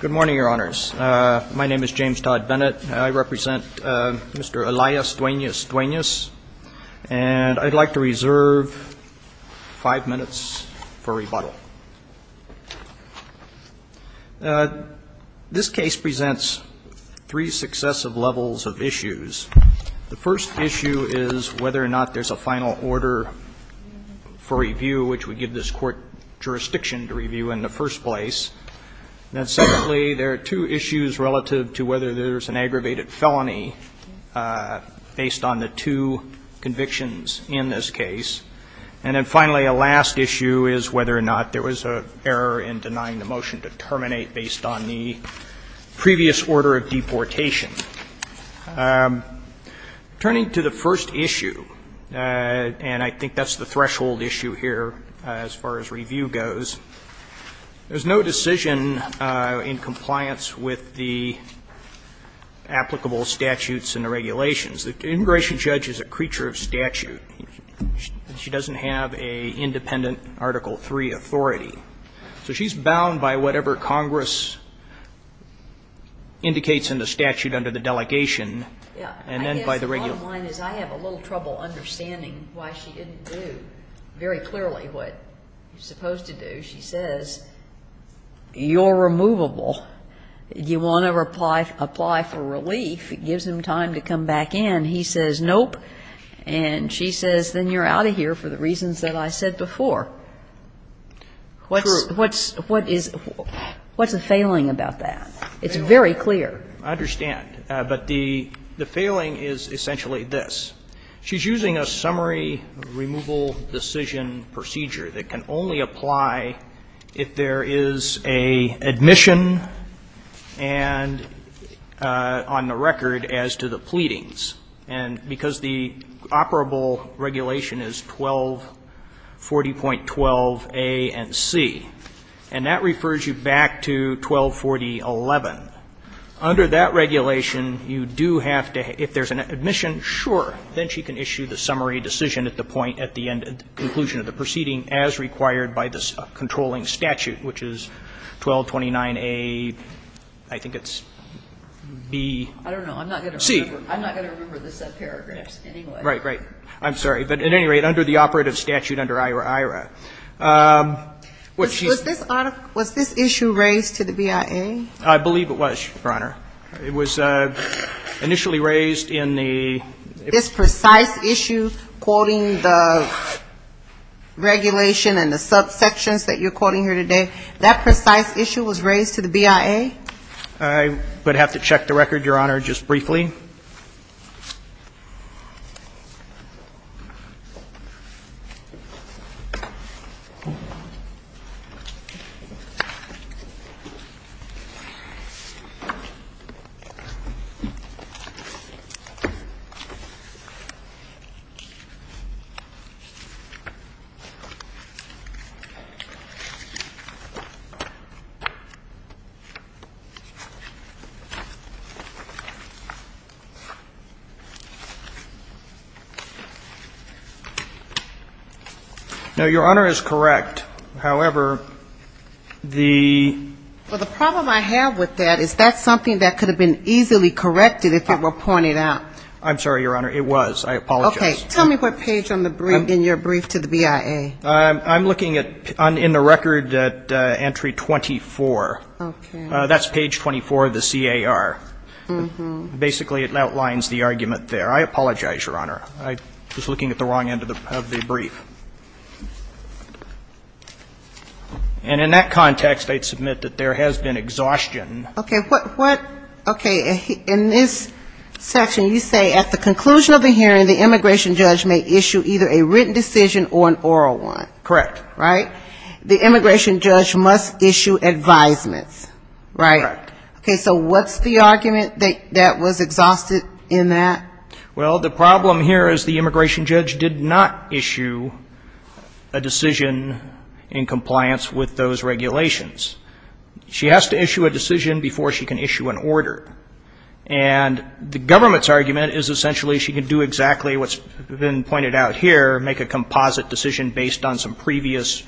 Good morning, Your Honors. My name is James Todd Bennett. I represent Mr. Elias Duenas-Duenas, and I'd like to reserve five minutes for rebuttal. This case presents three successive levels of issues. The first issue is whether or not there's a final order for review, which we give this court jurisdiction to review in the first place. Then, secondly, there are two issues relative to whether there's an aggravated felony based on the two convictions in this case. And then, finally, a last issue is whether or not there was an error in denying the motion to terminate based on the previous order of deportation. Turning to the first issue, and I think that's the threshold issue here as far as review goes, there's no decision in compliance with the applicable statutes and the regulations. The integration judge is a creature of statute. She doesn't have an independent Article III authority. So she's bound by whatever Congress indicates in the statute under the delegation, and then by the regulations. I guess the bottom line is I have a little trouble understanding why she didn't do very clearly what you're supposed to do. She says, you're removable. You want to apply for relief. It gives him time to come back in. And he says, nope. And she says, then you're out of here for the reasons that I said before. What's the failing about that? It's very clear. I understand. But the failing is essentially this. She's using a summary removal decision procedure that can only apply if there is an admission and on the record as to the pleadings. And because the operable regulation is 1240.12a and c, and that refers you back to 1240.11. Under that regulation, you do have to, if there's an admission, sure. Then she can issue the summary decision at the point at the end of the conclusion of the proceeding as required by the controlling statute, which is 1229a, I think it's b, c. I'm not going to remember the subparagraphs anyway. Right, right. I'm sorry. But at any rate, under the operative statute under IRA, IRA. Was this issue raised to the BIA? I believe it was, Your Honor. It was initially raised in the ‑‑ This precise issue, quoting the regulation and the subsections that you're quoting here today, that precise issue was raised to the BIA? I would have to check the record, Your Honor, just briefly. No, Your Honor is correct. However, the ‑‑ Well, the problem I have with that is that's something that could have been easily corrected if it were pointed out. I'm sorry, Your Honor. It was. I apologize. Okay. Tell me what page in your brief to the BIA. I'm looking in the record at entry 24. Okay. That's page 24 of the CAR. Basically, it outlines the argument there. I apologize, Your Honor. I was looking at the wrong end of the brief. And in that context, I'd submit that there has been exhaustion. Okay. What ‑‑ okay. In this section, you say at the conclusion of the hearing, the immigration judge may issue either a written decision or an oral one. Correct. Right? The immigration judge must issue advisements. Right? Correct. Okay. So what's the argument that was exhausted in that? Well, the problem here is the immigration judge did not issue a decision in compliance with those regulations. She has to issue a decision before she can issue an order. And the government's argument is essentially she can do exactly what's been pointed out here, make a composite decision based on some previous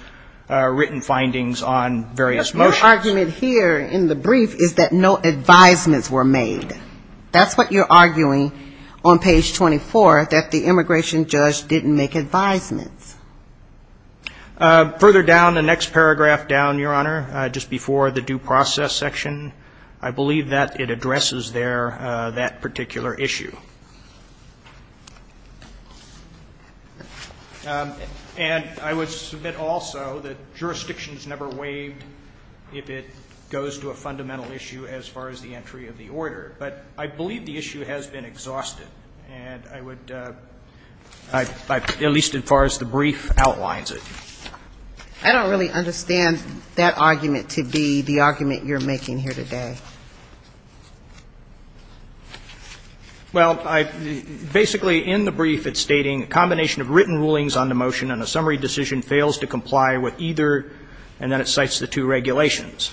written findings on various motions. But your argument here in the brief is that no advisements were made. That's what you're arguing on page 24, that the immigration judge didn't make advisements. Further down, the next paragraph down, Your Honor, just before the due process section, I believe that it addresses there that particular issue. And I would submit also that jurisdictions never waived if it goes to a fundamental issue as far as the entry of the order. But I believe the issue has been exhausted. And I would ‑‑ at least as far as the brief outlines it. I don't really understand that argument to be the argument you're making here today. Well, basically in the brief it's stating a combination of written rulings on the motion and a summary decision fails to comply with either, and then it cites the two regulations.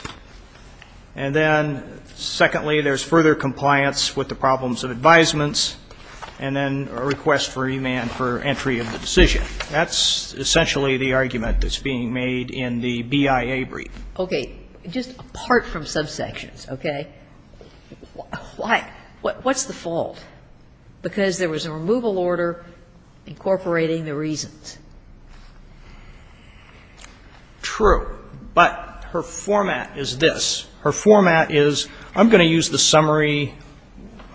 And then secondly, there's further compliance with the problems of advisements, and then a request for remand for entry of the decision. That's essentially the argument that's being made in the BIA brief. Okay. Just apart from subsections, okay? Why? What's the fault? Because there was a removal order incorporating the reasons. True. But her format is this. Her format is, I'm going to use the summary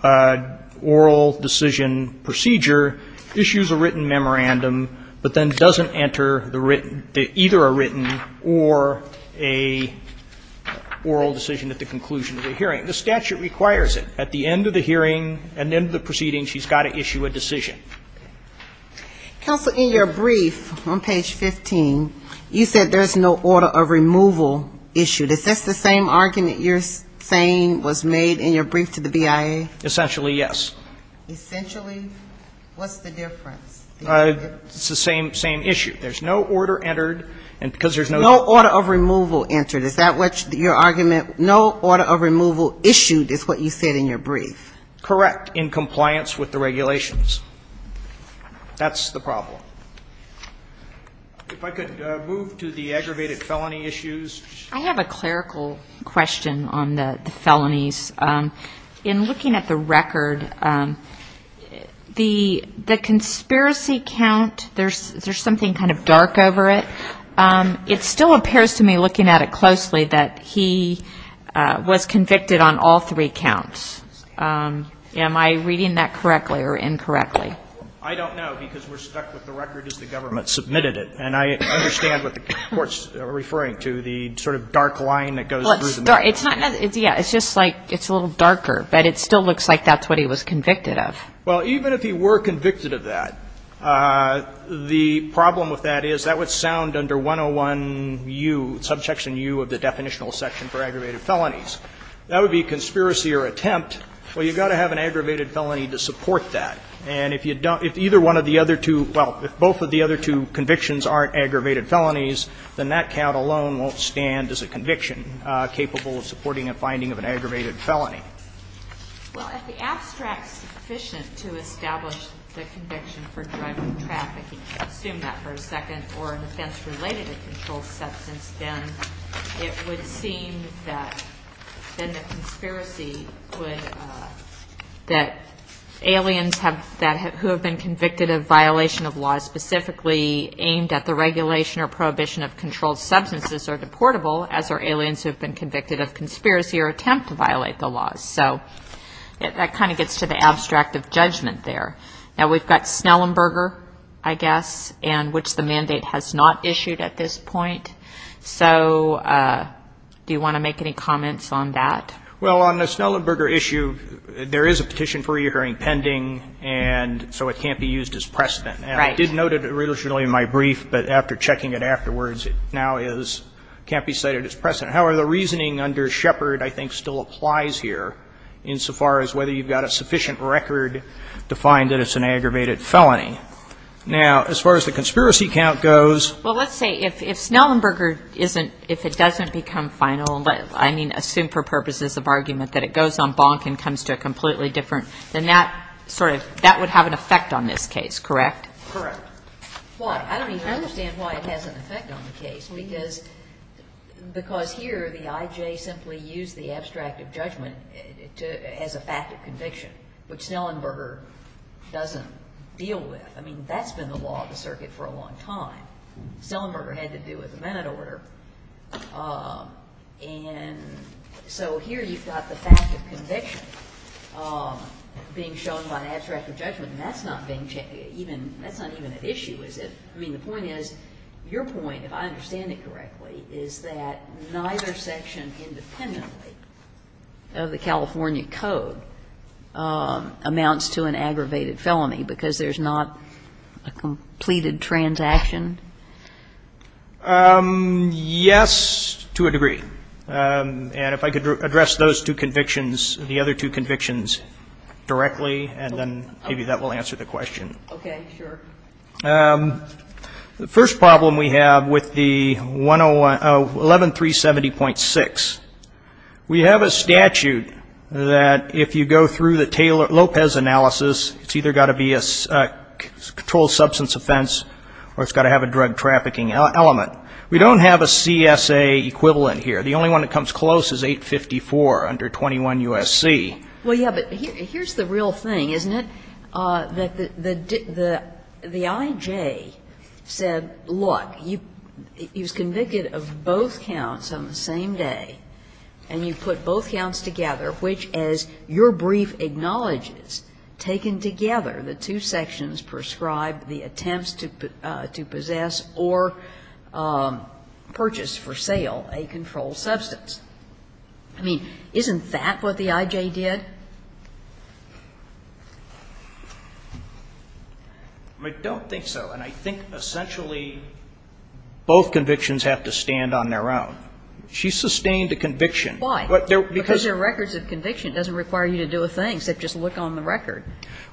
oral decision procedure. Issues a written memorandum, but then doesn't enter either a written or a oral decision at the conclusion of the hearing. The statute requires it. At the end of the hearing, at the end of the proceeding, she's got to issue a decision. Counsel, in your brief on page 15, you said there's no order of removal issue. Is this the same argument you're saying was made in your brief to the BIA? Essentially, yes. Essentially, what's the difference? It's the same issue. There's no order entered. No order of removal entered. Is that what your argument? No order of removal issued is what you said in your brief. Correct, in compliance with the regulations. That's the problem. If I could move to the aggravated felony issues. I have a clerical question on the felonies. In looking at the record, the conspiracy count, there's something kind of dark over it. It still appears to me, looking at it closely, that he was convicted on all three counts. Am I reading that correctly or incorrectly? I don't know, because we're stuck with the record as the government submitted it. And I understand what the Court's referring to, the sort of dark line that goes through the record. Yeah, it's just like it's a little darker, but it still looks like that's what he was convicted of. Well, even if he were convicted of that, the problem with that is that would sound under 101U, Subsection U of the definitional section for aggravated felonies. That would be conspiracy or attempt. Well, you've got to have an aggravated felony to support that. And if either one of the other two, well, if both of the other two convictions aren't aggravated felonies, then that count alone won't stand as a conviction capable of supporting a finding of an aggravated felony. Well, if the abstract is sufficient to establish the conviction for drug trafficking and assume that for a second, or an offense related to controlled substance, then it would seem that then the conspiracy would, that aliens who have been convicted of violation of laws specifically aimed at the regulation or prohibition of controlled substances are deportable as are aliens who have been convicted of conspiracy or attempt to violate the laws. So that kind of gets to the abstract of judgment there. Now, we've got Snellenberger, I guess, and which the mandate has not issued at this point. So do you want to make any comments on that? Well, on the Snellenberger issue, there is a petition for reoccurring pending, and so it can't be used as precedent. Right. And I did note it originally in my brief, but after checking it afterwards, it now is, can't be cited as precedent. However, the reasoning under Shepard I think still applies here insofar as whether you've got a sufficient record to find that it's an aggravated felony. Now, as far as the conspiracy count goes. Well, let's say if Snellenberger isn't, if it doesn't become final, I mean, assume for purposes of argument that it goes on bonk and comes to a completely different, then that sort of, that would have an effect on this case, correct? Correct. Why? I don't even understand why it has an effect on the case, because here the I.J. simply used the abstract of judgment as a fact of conviction, which Snellenberger doesn't deal with. I mean, that's been the law of the circuit for a long time. Snellenberger had to do with the manatee order. And so here you've got the fact of conviction being shown by an abstract of judgment, and that's not being checked. That's not even an issue, is it? I mean, the point is, your point, if I understand it correctly, is that neither section independently of the California Code amounts to an aggravated felony, because there's not a completed transaction? Yes, to a degree. And if I could address those two convictions, the other two convictions, directly, and then maybe that will answer the question. Okay, sure. The first problem we have with the 11370.6, we have a statute that if you go through the element. We don't have a CSA equivalent here. The only one that comes close is 854 under 21 U.S.C. Well, yeah, but here's the real thing, isn't it? The I.J. said, look, he was convicted of both counts on the same day, and you put both counts together, which as your brief acknowledges, taken together, the two sections prescribe the attempts to possess or purchase for sale a controlled substance. I mean, isn't that what the I.J. did? I don't think so. And I think essentially both convictions have to stand on their own. She sustained a conviction. Why? Because there are records of conviction. It doesn't require you to do a thing, except just look on the record.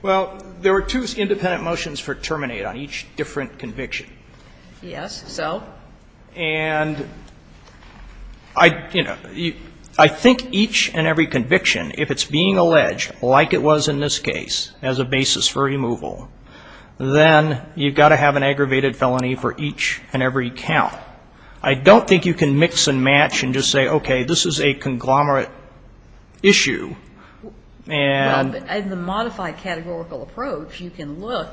Well, there were two independent motions for terminate on each different conviction. Yes. So? And I, you know, I think each and every conviction, if it's being alleged, like it was in this case, as a basis for removal, then you've got to have an aggravated felony for each and every count. I don't think you can mix and match and just say, okay, this is a conglomerate approach, you can look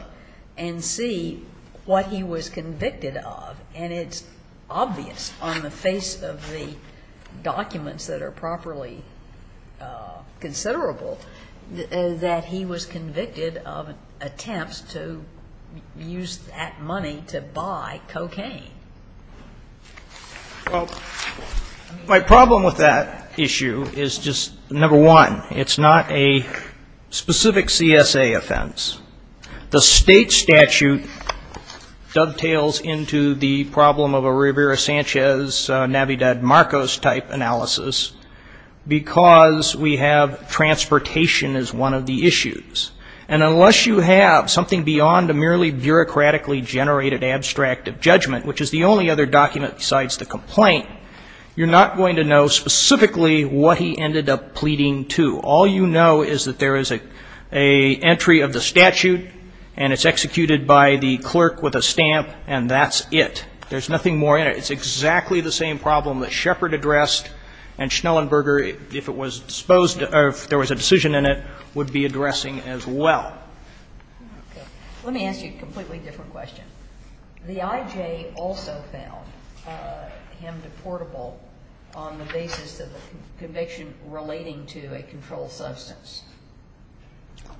and see what he was convicted of. And it's obvious on the face of the documents that are properly considerable that he was convicted of attempts to use that money to buy cocaine. Well, my problem with that issue is just, number one, it's not a specific CSA offense. The state statute dovetails into the problem of a Rivera-Sanchez, Navidad-Marcos type analysis, because we have transportation as one of the issues. And unless you have something beyond a merely bureaucratically generated abstract of judgment, which is the only other document besides the complaint, you're not going to know specifically what he ended up pleading to. All you know is that there is an entry of the statute, and it's executed by the clerk with a stamp, and that's it. There's nothing more in it. It's exactly the same problem that Shepard addressed and Schnellenberger, if it was disposed of, if there was a decision in it, would be addressing as well. Okay. Let me ask you a completely different question. The IJ also found him deportable on the basis of a conviction relating to a controlled substance.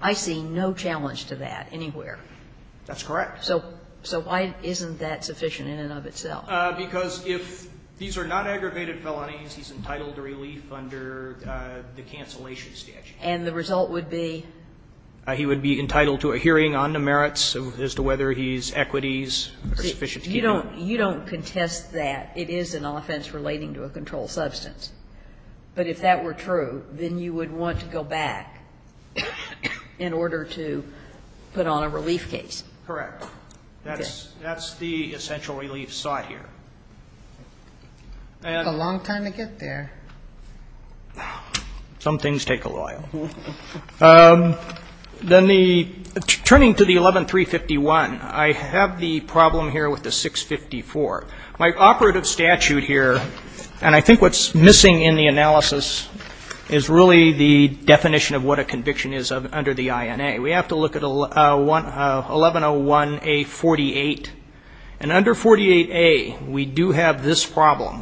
I see no challenge to that anywhere. That's correct. So why isn't that sufficient in and of itself? Because if these are not aggravated felonies, he's entitled to relief under the cancellation statute. And the result would be? He would be entitled to a hearing on the merits as to whether his equities are sufficient to keep him. You don't contest that. It is an offense relating to a controlled substance. But if that were true, then you would want to go back in order to put on a relief case. Correct. That's the essential relief sought here. It's a long time to get there. Some things take a while. Then the ‑‑ turning to the 11351, I have the problem here with the 654. My operative statute here, and I think what's missing in the analysis, is really the definition of what a conviction is under the INA. We have to look at 1101A48. And under 48A, we do have this problem.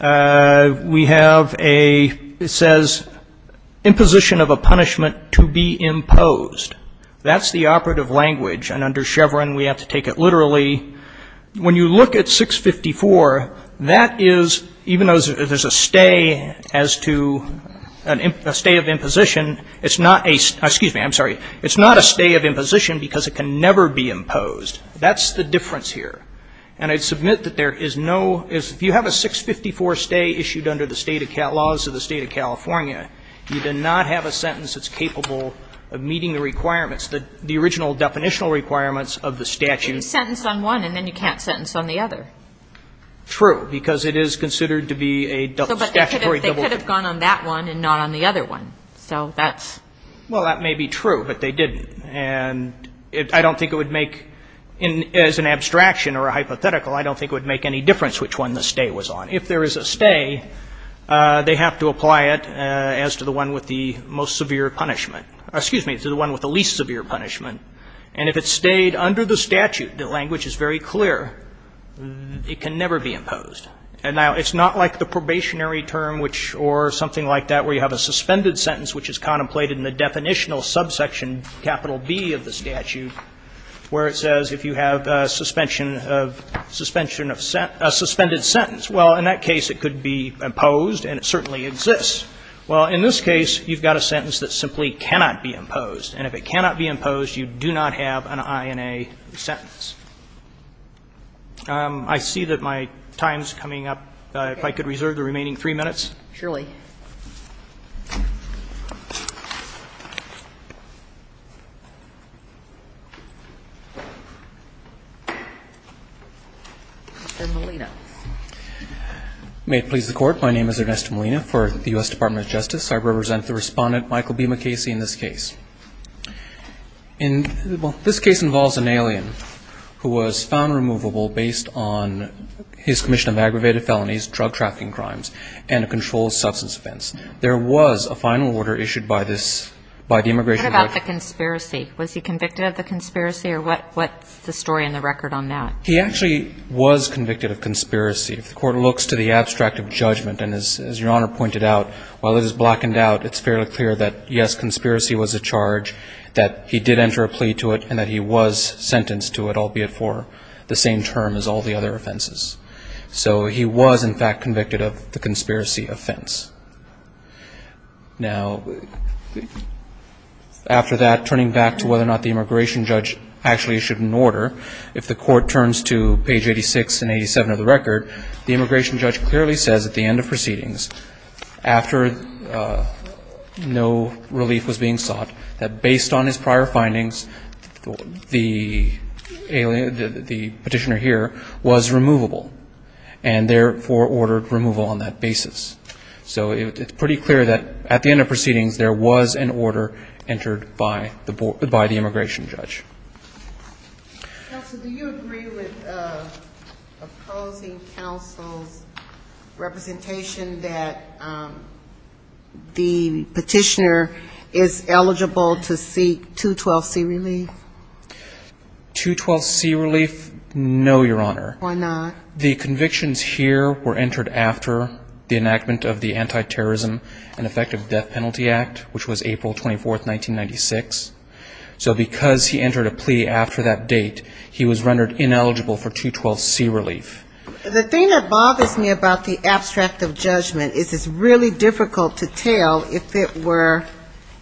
We have a ‑‑ it says, imposition of a punishment to be imposed. That's the operative language. And under Chevron, we have to take it literally. When you look at 654, that is, even though there's a stay as to a stay of imposition, it's not a ‑‑ excuse me, I'm sorry. It's not a stay of imposition because it can never be imposed. That's the difference here. And I submit that there is no ‑‑ if you have a 654 stay issued under the state of ‑‑ laws of the State of California, you do not have a sentence that's capable of meeting the requirements, the original definitional requirements of the statute. You can sentence on one and then you can't sentence on the other. True, because it is considered to be a statutory ‑‑ But they could have gone on that one and not on the other one. So that's ‑‑ Well, that may be true, but they didn't. And I don't think it would make, as an abstraction or a hypothetical, I don't think it would make any difference which one the stay was on. If there is a stay, they have to apply it as to the one with the most severe punishment. Excuse me, to the one with the least severe punishment. And if it stayed under the statute, the language is very clear, it can never be imposed. Now, it's not like the probationary term or something like that where you have a suspended sentence which is contemplated in the definitional subsection capital B of the statute where it says if you have a suspension of ‑‑ a suspended sentence. Well, in that case, it could be imposed and it certainly exists. Well, in this case, you've got a sentence that simply cannot be imposed. And if it cannot be imposed, you do not have an INA sentence. I see that my time is coming up. If I could reserve the remaining three minutes. Surely. Mr. Molina. May it please the Court. My name is Ernesto Molina for the U.S. Department of Justice. I represent the Respondent Michael B. McCasey in this case. This case involves an alien who was found removable based on his commission of aggravated felonies, drug trafficking crimes, and a controlled substance offense. There was a final order issued by this ‑‑ by the immigration ‑‑ What about the conspiracy? Was he convicted of the conspiracy or what's the story in the record on that? He actually was convicted of conspiracy. If the Court looks to the abstract of judgment, and as Your Honor pointed out, while it is blackened out, it's fairly clear that, yes, conspiracy was a charge, that he did enter a plea to it, and that he was sentenced to it, albeit for the same term as all the other offenses. So he was, in fact, convicted of the conspiracy offense. Now, after that, turning back to whether or not the immigration judge actually issued an order, if the Court turns to page 86 and 87 of the record, the immigration judge clearly says at the end of proceedings, after no relief was being sought, that based on his prior findings, the alien, the petitioner here, was removable and therefore ordered removal on that basis. So it's pretty clear that at the end of proceedings there was an order entered by the immigration judge. Counsel, do you agree with opposing counsel's representation that the petitioner is eligible to seek 212C relief? 212C relief, no, Your Honor. Why not? The convictions here were entered after the enactment of the Anti-Terrorism and Effective Death Penalty Act, which was April 24, 1996. So because he entered a plea after that date, he was rendered ineligible for 212C relief. The thing that bothers me about the abstract of judgment is it's really difficult to tell if it were,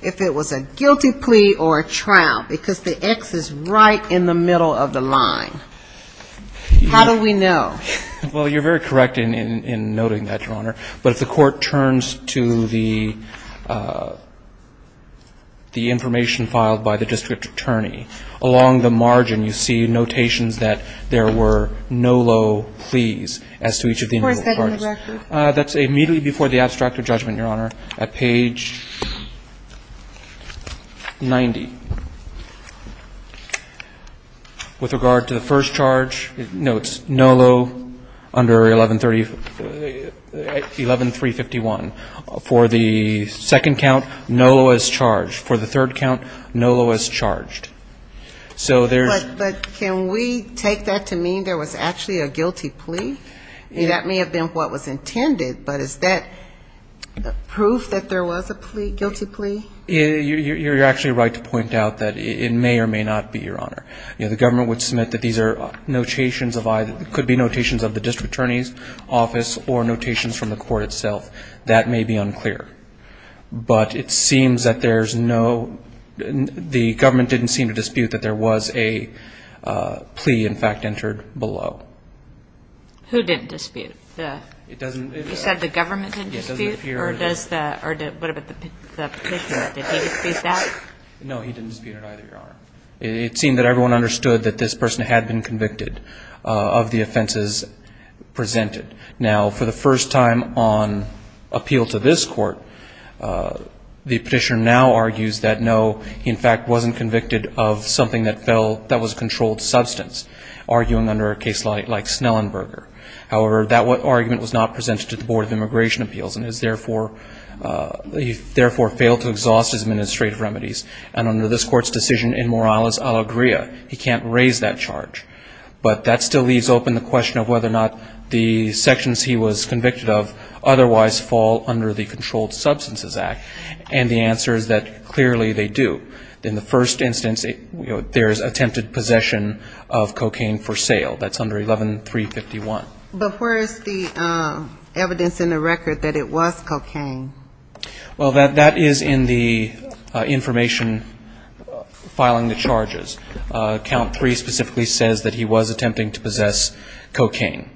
if it was a guilty plea or a trial, because the X is right in the middle of the line. How do we know? Well, you're very correct in noting that, Your Honor. But if the court turns to the information filed by the district attorney, along the margin you see notations that there were no low pleas as to each of the individual parties. Of course, that's in the record. That's immediately before the abstract of judgment, Your Honor, at page 90. With regard to the first charge, no, it's no low under 1130. 11351. For the second count, no low as charged. For the third count, no low as charged. But can we take that to mean there was actually a guilty plea? That may have been what was intended, but is that proof that there was a guilty plea? You're actually right to point out that it may or may not be, Your Honor. You know, the government would submit that these are notations of either, could be notations of the district attorney's office or notations from the court itself. That may be unclear. But it seems that there's no, the government didn't seem to dispute that there was a plea, in fact, entered below. Who didn't dispute? You said the government didn't dispute, or what about the petitioner? Did he dispute that? No, he didn't dispute it either, Your Honor. It seemed that everyone understood that this person had been convicted of the offenses presented. Now, for the first time on appeal to this court, the petitioner now argues that, no, he, in fact, wasn't convicted of something that fell, that was a controlled substance, arguing under a case like Snellenberger. However, that argument was not presented to the Board of Immigration Appeals and is, therefore, he, therefore, failed to exhaust his administrative remedies. And under this court's decision, in moralis allegria, he can't raise that charge. But that still leaves open the question of whether or not the sections he was convicted of otherwise fall under the Controlled Substances Act. And the answer is that, clearly, they do. In the first instance, you know, there is attempted possession of cocaine for sale. That's under 11351. But where is the evidence in the record that it was cocaine? Well, that is in the information filing the charges. Count 3 specifically says that he was attempting to possess cocaine.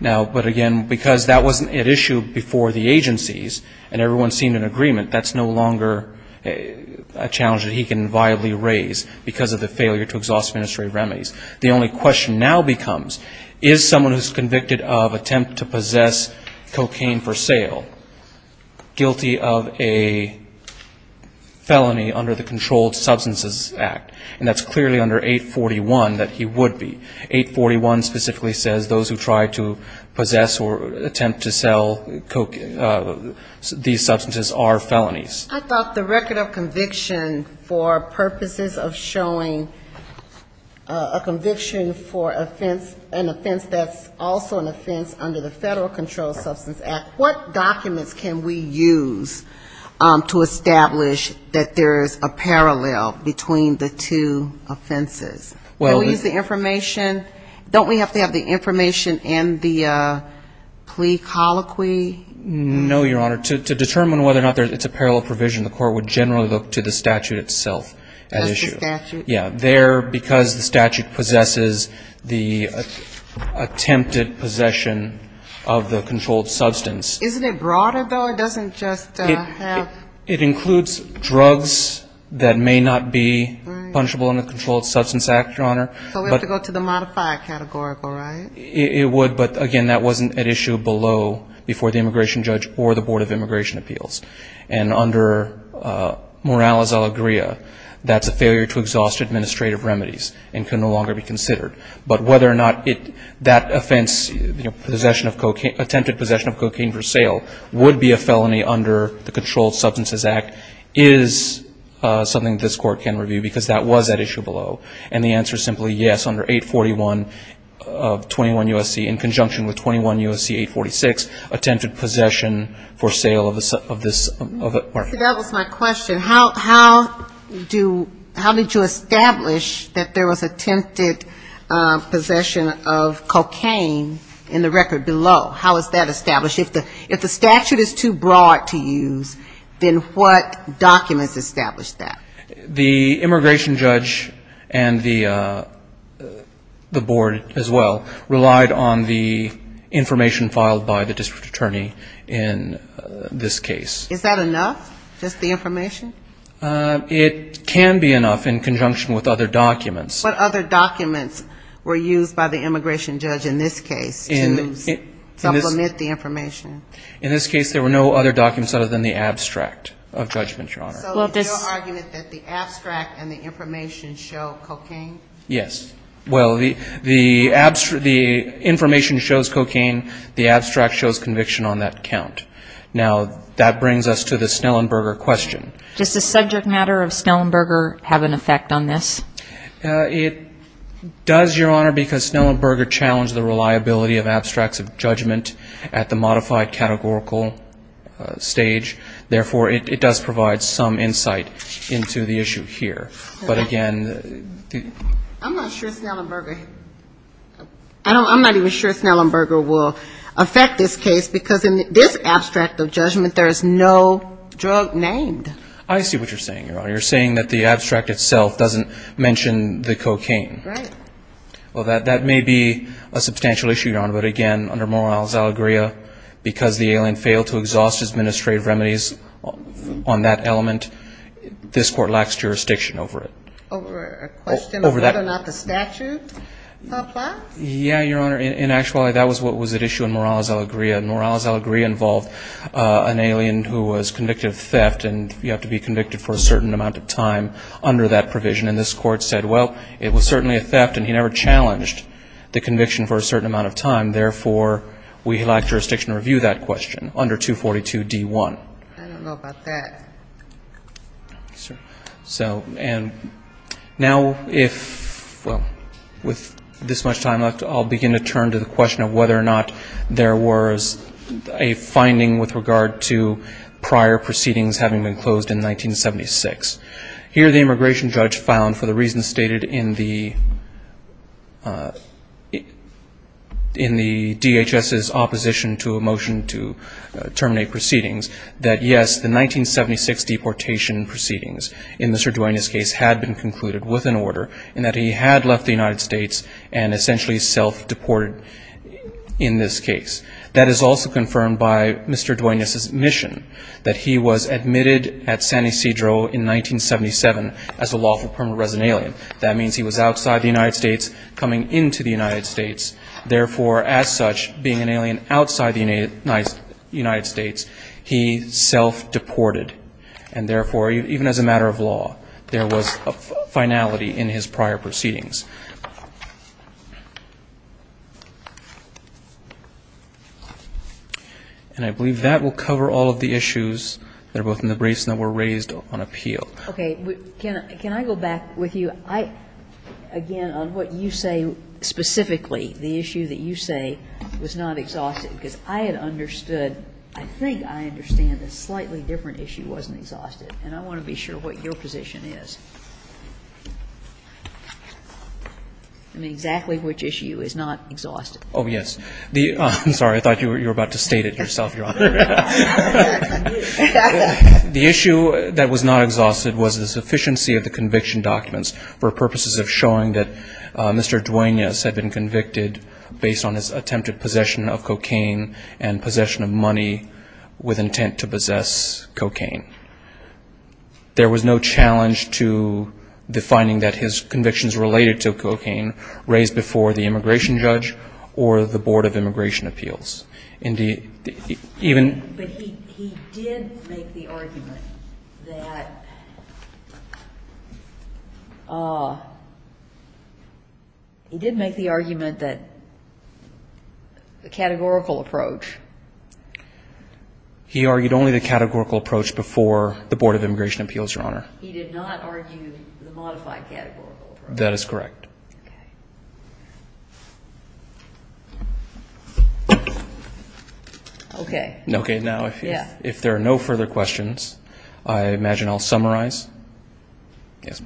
Now, but again, because that wasn't at issue before the agencies and everyone seemed in agreement, that's no longer a challenge that he can viably raise because of the failure to exhaust administrative remedies. The only question now becomes, is someone who's convicted of attempt to possess cocaine for sale guilty of a felony under the Controlled Substances Act? And that's clearly under 841 that he would be. 841 specifically says those who try to possess or attempt to sell these substances are felonies. cocaine for sale was in the records. And that's clearly showing a conviction for an offense that's also an offense under the Federal Controlled Substances Act. What documents can we use to establish that there is a parallel between the two offenses? Can we use the information? Don't we have to have the information in the plea colloquy? No, Your Honor. To determine whether or not it's a parallel provision, the court would generally look to the statute itself at issue. Yeah, there, because the statute possesses the attempted possession of the controlled substance. Isn't it broader, though? It doesn't just have... It includes drugs that may not be punishable under the Controlled Substances Act, Your Honor. So we have to go to the modifier categorical, right? It would, but again, that wasn't at issue below before the immigration judge or the Board of Immigration Appeals. And under Morales-Alegria, that's a failure to exhaust administrative remedies and can no longer be considered. But whether or not that offense, attempted possession of cocaine for sale, would be a felony under the Controlled Substances Act is something this court can review, because that was at issue below. And the answer is simply yes, under 841 of 21 U.S.C. in conjunction with 21 U.S.C. 846, attempted possession for sale of this substance. So that was my question. How did you establish that there was attempted possession of cocaine in the record below? How is that established? If the statute is too broad to use, then what documents establish that? The immigration judge and the board as well relied on the information filed by the district attorney in this case. Is that enough, just the information? It can be enough in conjunction with other documents. What other documents were used by the immigration judge in this case to supplement the information? In this case, there were no other documents other than the abstract of judgment, Your Honor. So is your argument that the abstract and the information show cocaine? Yes. Well, the information shows cocaine, the abstract shows conviction on that count. Now, that brings us to the Snellenberger question. Does the subject matter of Snellenberger have an effect on this? It does, Your Honor, because Snellenberger challenged the reliability of abstracts of judgment at the modified categorical stage. Therefore, it does provide some insight into the issue here. But again the ---- I'm not sure Snellenberger, I'm not even sure Snellenberger will affect this case, because in this abstract, of judgment, there is no drug named. I see what you're saying, Your Honor. You're saying that the abstract itself doesn't mention the cocaine. Right. Well, that may be a substantial issue, Your Honor, but again, under Morales-Alegria, because the alien failed to exhaust his administrative remedies on that element, this Court lacks jurisdiction over it. Yeah, Your Honor. In actuality, that was what was at issue in Morales-Alegria. Morales-Alegria involved an alien who was convicted of theft, and you have to be convicted for a certain amount of time under that provision. And this Court said, well, it was certainly a theft, and he never challenged the conviction for a certain amount of time. Therefore, we lack jurisdiction to review that question under 242d1. I don't know about that. So, and now if ---- well, with this much time left, I'll begin to turn it over to you, Your Honor. I'd like to turn to the question of whether or not there was a finding with regard to prior proceedings having been closed in 1976. Here the immigration judge found, for the reasons stated in the DHS's opposition to a motion to terminate proceedings, that, yes, the 1976 deportation proceedings in Mr. Duane's case had been concluded with an order, in that he had left the United States and essentially self-deported in this case. That is also confirmed by Mr. Duane's admission that he was admitted at San Ysidro in 1977 as a lawful permanent resident alien. That means he was outside the United States coming into the United States. Therefore, as such, being an alien outside the United States, he self-deported. And therefore, even as a matter of law, there was a finality in his prior proceedings. And I believe that will cover all of the issues that are both in the briefs and that were raised on appeal. Okay. Can I go back with you? I, again, on what you say specifically, the issue that you say was not exhaustive because I had understood, I think I understand a slightly different issue wasn't exhaustive, and I want to be sure what your position is. I mean, exactly which issue is not exhaustive? Oh, yes. I'm sorry. I thought you were about to state it yourself, Your Honor. The issue that was not exhaustive was the sufficiency of the conviction documents for purposes of showing that Mr. Duane has been convicted based on his attempted possession of cocaine and possession of money with intent to possess cocaine. There was no challenge to the finding that his convictions related to cocaine raised before the immigration judge or the Board of Immigration Appeals. But he did make the argument that the categorical approach. He argued only the categorical approach before the Board of Immigration Appeals, Your Honor. He did not argue the modified categorical approach. That is correct. Okay. Okay. Okay. Now, if there are no further questions, I imagine I'll summarize. Yes.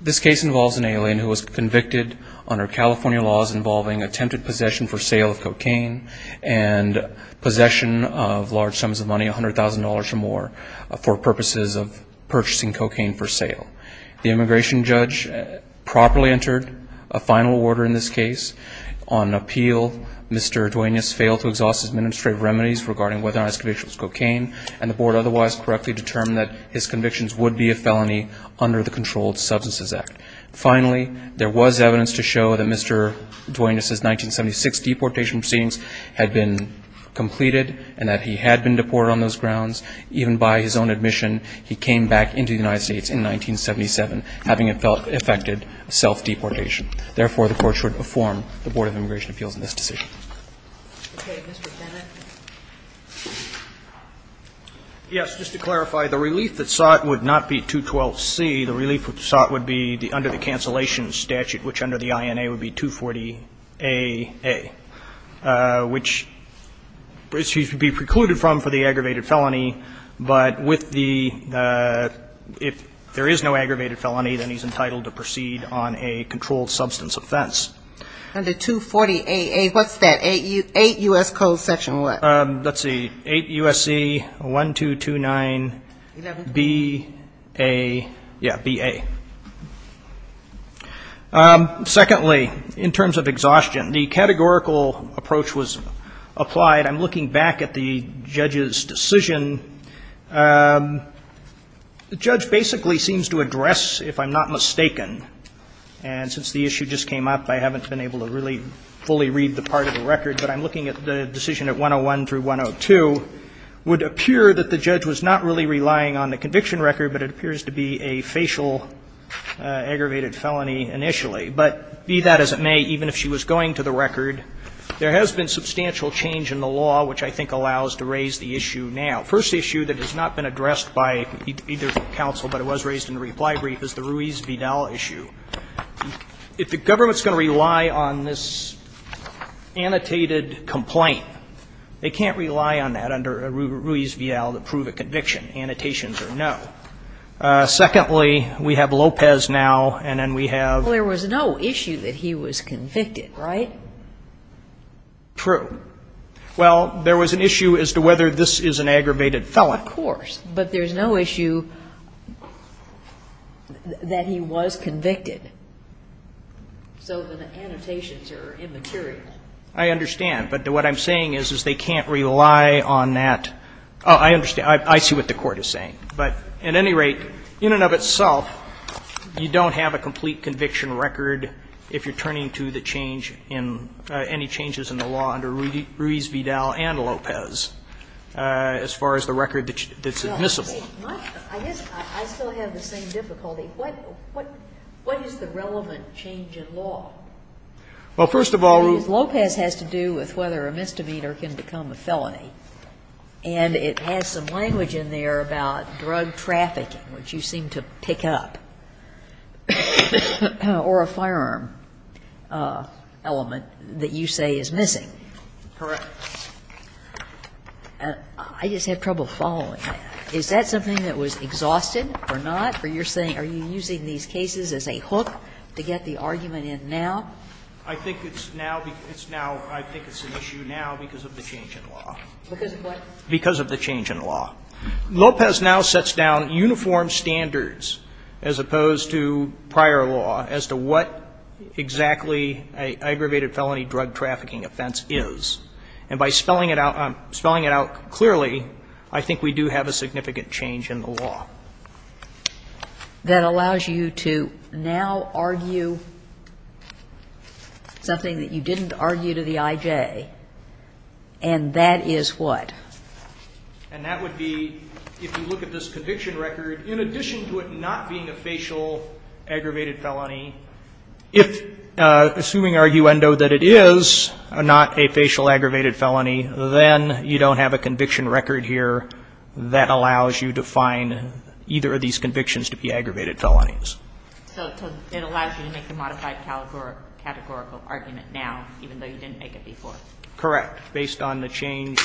This case involves an alien who was convicted under California laws involving attempted possession for sale of cocaine and possession of large sums of money, $100,000 or more, for purposes of purchasing cocaine for sale. The immigration judge properly entered a $100,000 fine, a final order in this case. On appeal, Mr. Duanez failed to exhaust his administrative remedies regarding whether or not his conviction was cocaine, and the Board otherwise correctly determined that his convictions would be a felony under the Controlled Substances Act. Finally, there was evidence to show that Mr. Duanez's 1976 deportation proceedings had been completed and that he had been deported on those grounds. Even by his own admission, he came back into the United States in 1977, having affected self-deportation. Therefore, the Court should inform the Board of Immigration Appeals in this decision. Okay. Mr. Bennett. Yes. Just to clarify, the relief that sought would not be 212C. The relief sought would be under the cancellation statute, which under the INA would be 240AA, which he would be precluded from for the aggravated felony, but with the if there is no aggravated felony, then he's entitled to proceed on a controlled substance offense. Under 240AA, what's that? Eight U.S. codes section what? Let's see. 8 U.S.C. 1229. 11. B.A. Yeah, B.A. Secondly, in terms of exhaustion, the categorical approach was applied. I'm looking back at the judge's decision. The judge basically seems to address, if I'm not mistaken, and since the issue just came up, I haven't been able to really fully read the part of the record, but I'm looking at the decision at 101 through 102, would appear that the judge was not really relying on the conviction record, but it appears to be a facial aggravated felony initially. But be that as it may, even if she was going to the record, there has been substantial change in the law, which I think allows to raise the issue now. First issue that has not been addressed by either counsel, but it was raised in the reply brief, is the Ruiz-Vidal issue. If the government's going to rely on this annotated complaint, they can't rely on that under a Ruiz-Vidal to prove a conviction. Annotations are no. Secondly, we have Lopez now, and then we have ---- Well, there was no issue that he was convicted, right? True. Well, there was an issue as to whether this is an aggravated felon. Of course. But there's no issue that he was convicted. So the annotations are immaterial. I understand. But what I'm saying is, is they can't rely on that. I understand. I see what the Court is saying. But at any rate, in and of itself, you don't have a complete conviction record if you're turning to the change in any changes in the law under Ruiz-Vidal and Lopez as far as the record that's admissible. I guess I still have the same difficulty. What is the relevant change in law? Well, first of all, Ruiz-Vidal---- Lopez has to do with whether a misdemeanor can become a felony. And it has some language in there about drug trafficking, which you seem to pick up, or a firearm element that you say is missing. Correct. I just have trouble following that. Is that something that was exhausted or not? Are you using these cases as a hook to get the argument in now? I think it's now an issue now because of the change in law. Because of what? Because of the change in law. Lopez now sets down uniform standards as opposed to prior law as to what exactly an aggravated felony drug trafficking offense is. And by spelling it out clearly, I think we do have a significant change in the law. That allows you to now argue something that you didn't argue to the I.J., and that is what? And that would be, if you look at this conviction record, in addition to it not being a facial aggravated felony, if, assuming arguendo that it is not a facial aggravated felony, then you don't have a conviction record here that allows you to find either of these convictions to be aggravated felonies. So it allows you to make a modified categorical argument now, even though you didn't make it before? Correct. Based on the change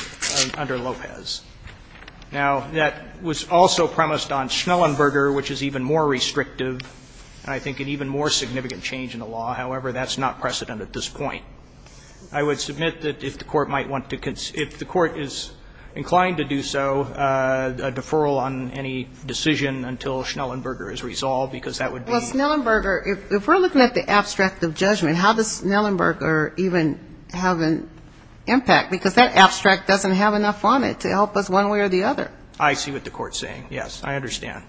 under Lopez. Now, that was also premised on Schnellenberger, which is even more restrictive and I think an even more significant change in the law. However, that's not precedent at this point. I would submit that if the Court might want to, if the Court is inclined to do so, a deferral on any decision until Schnellenberger is resolved, because that would be. Well, Schnellenberger, if we're looking at the abstract of judgment, how does Schnellenberger even have an impact, because that abstract doesn't have enough on it to help us one way or the other. I see what the Court is saying, yes. I understand.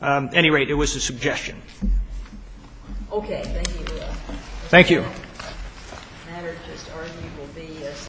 At any rate, it was a suggestion. Okay. Thank you, Your Honor. Thank you.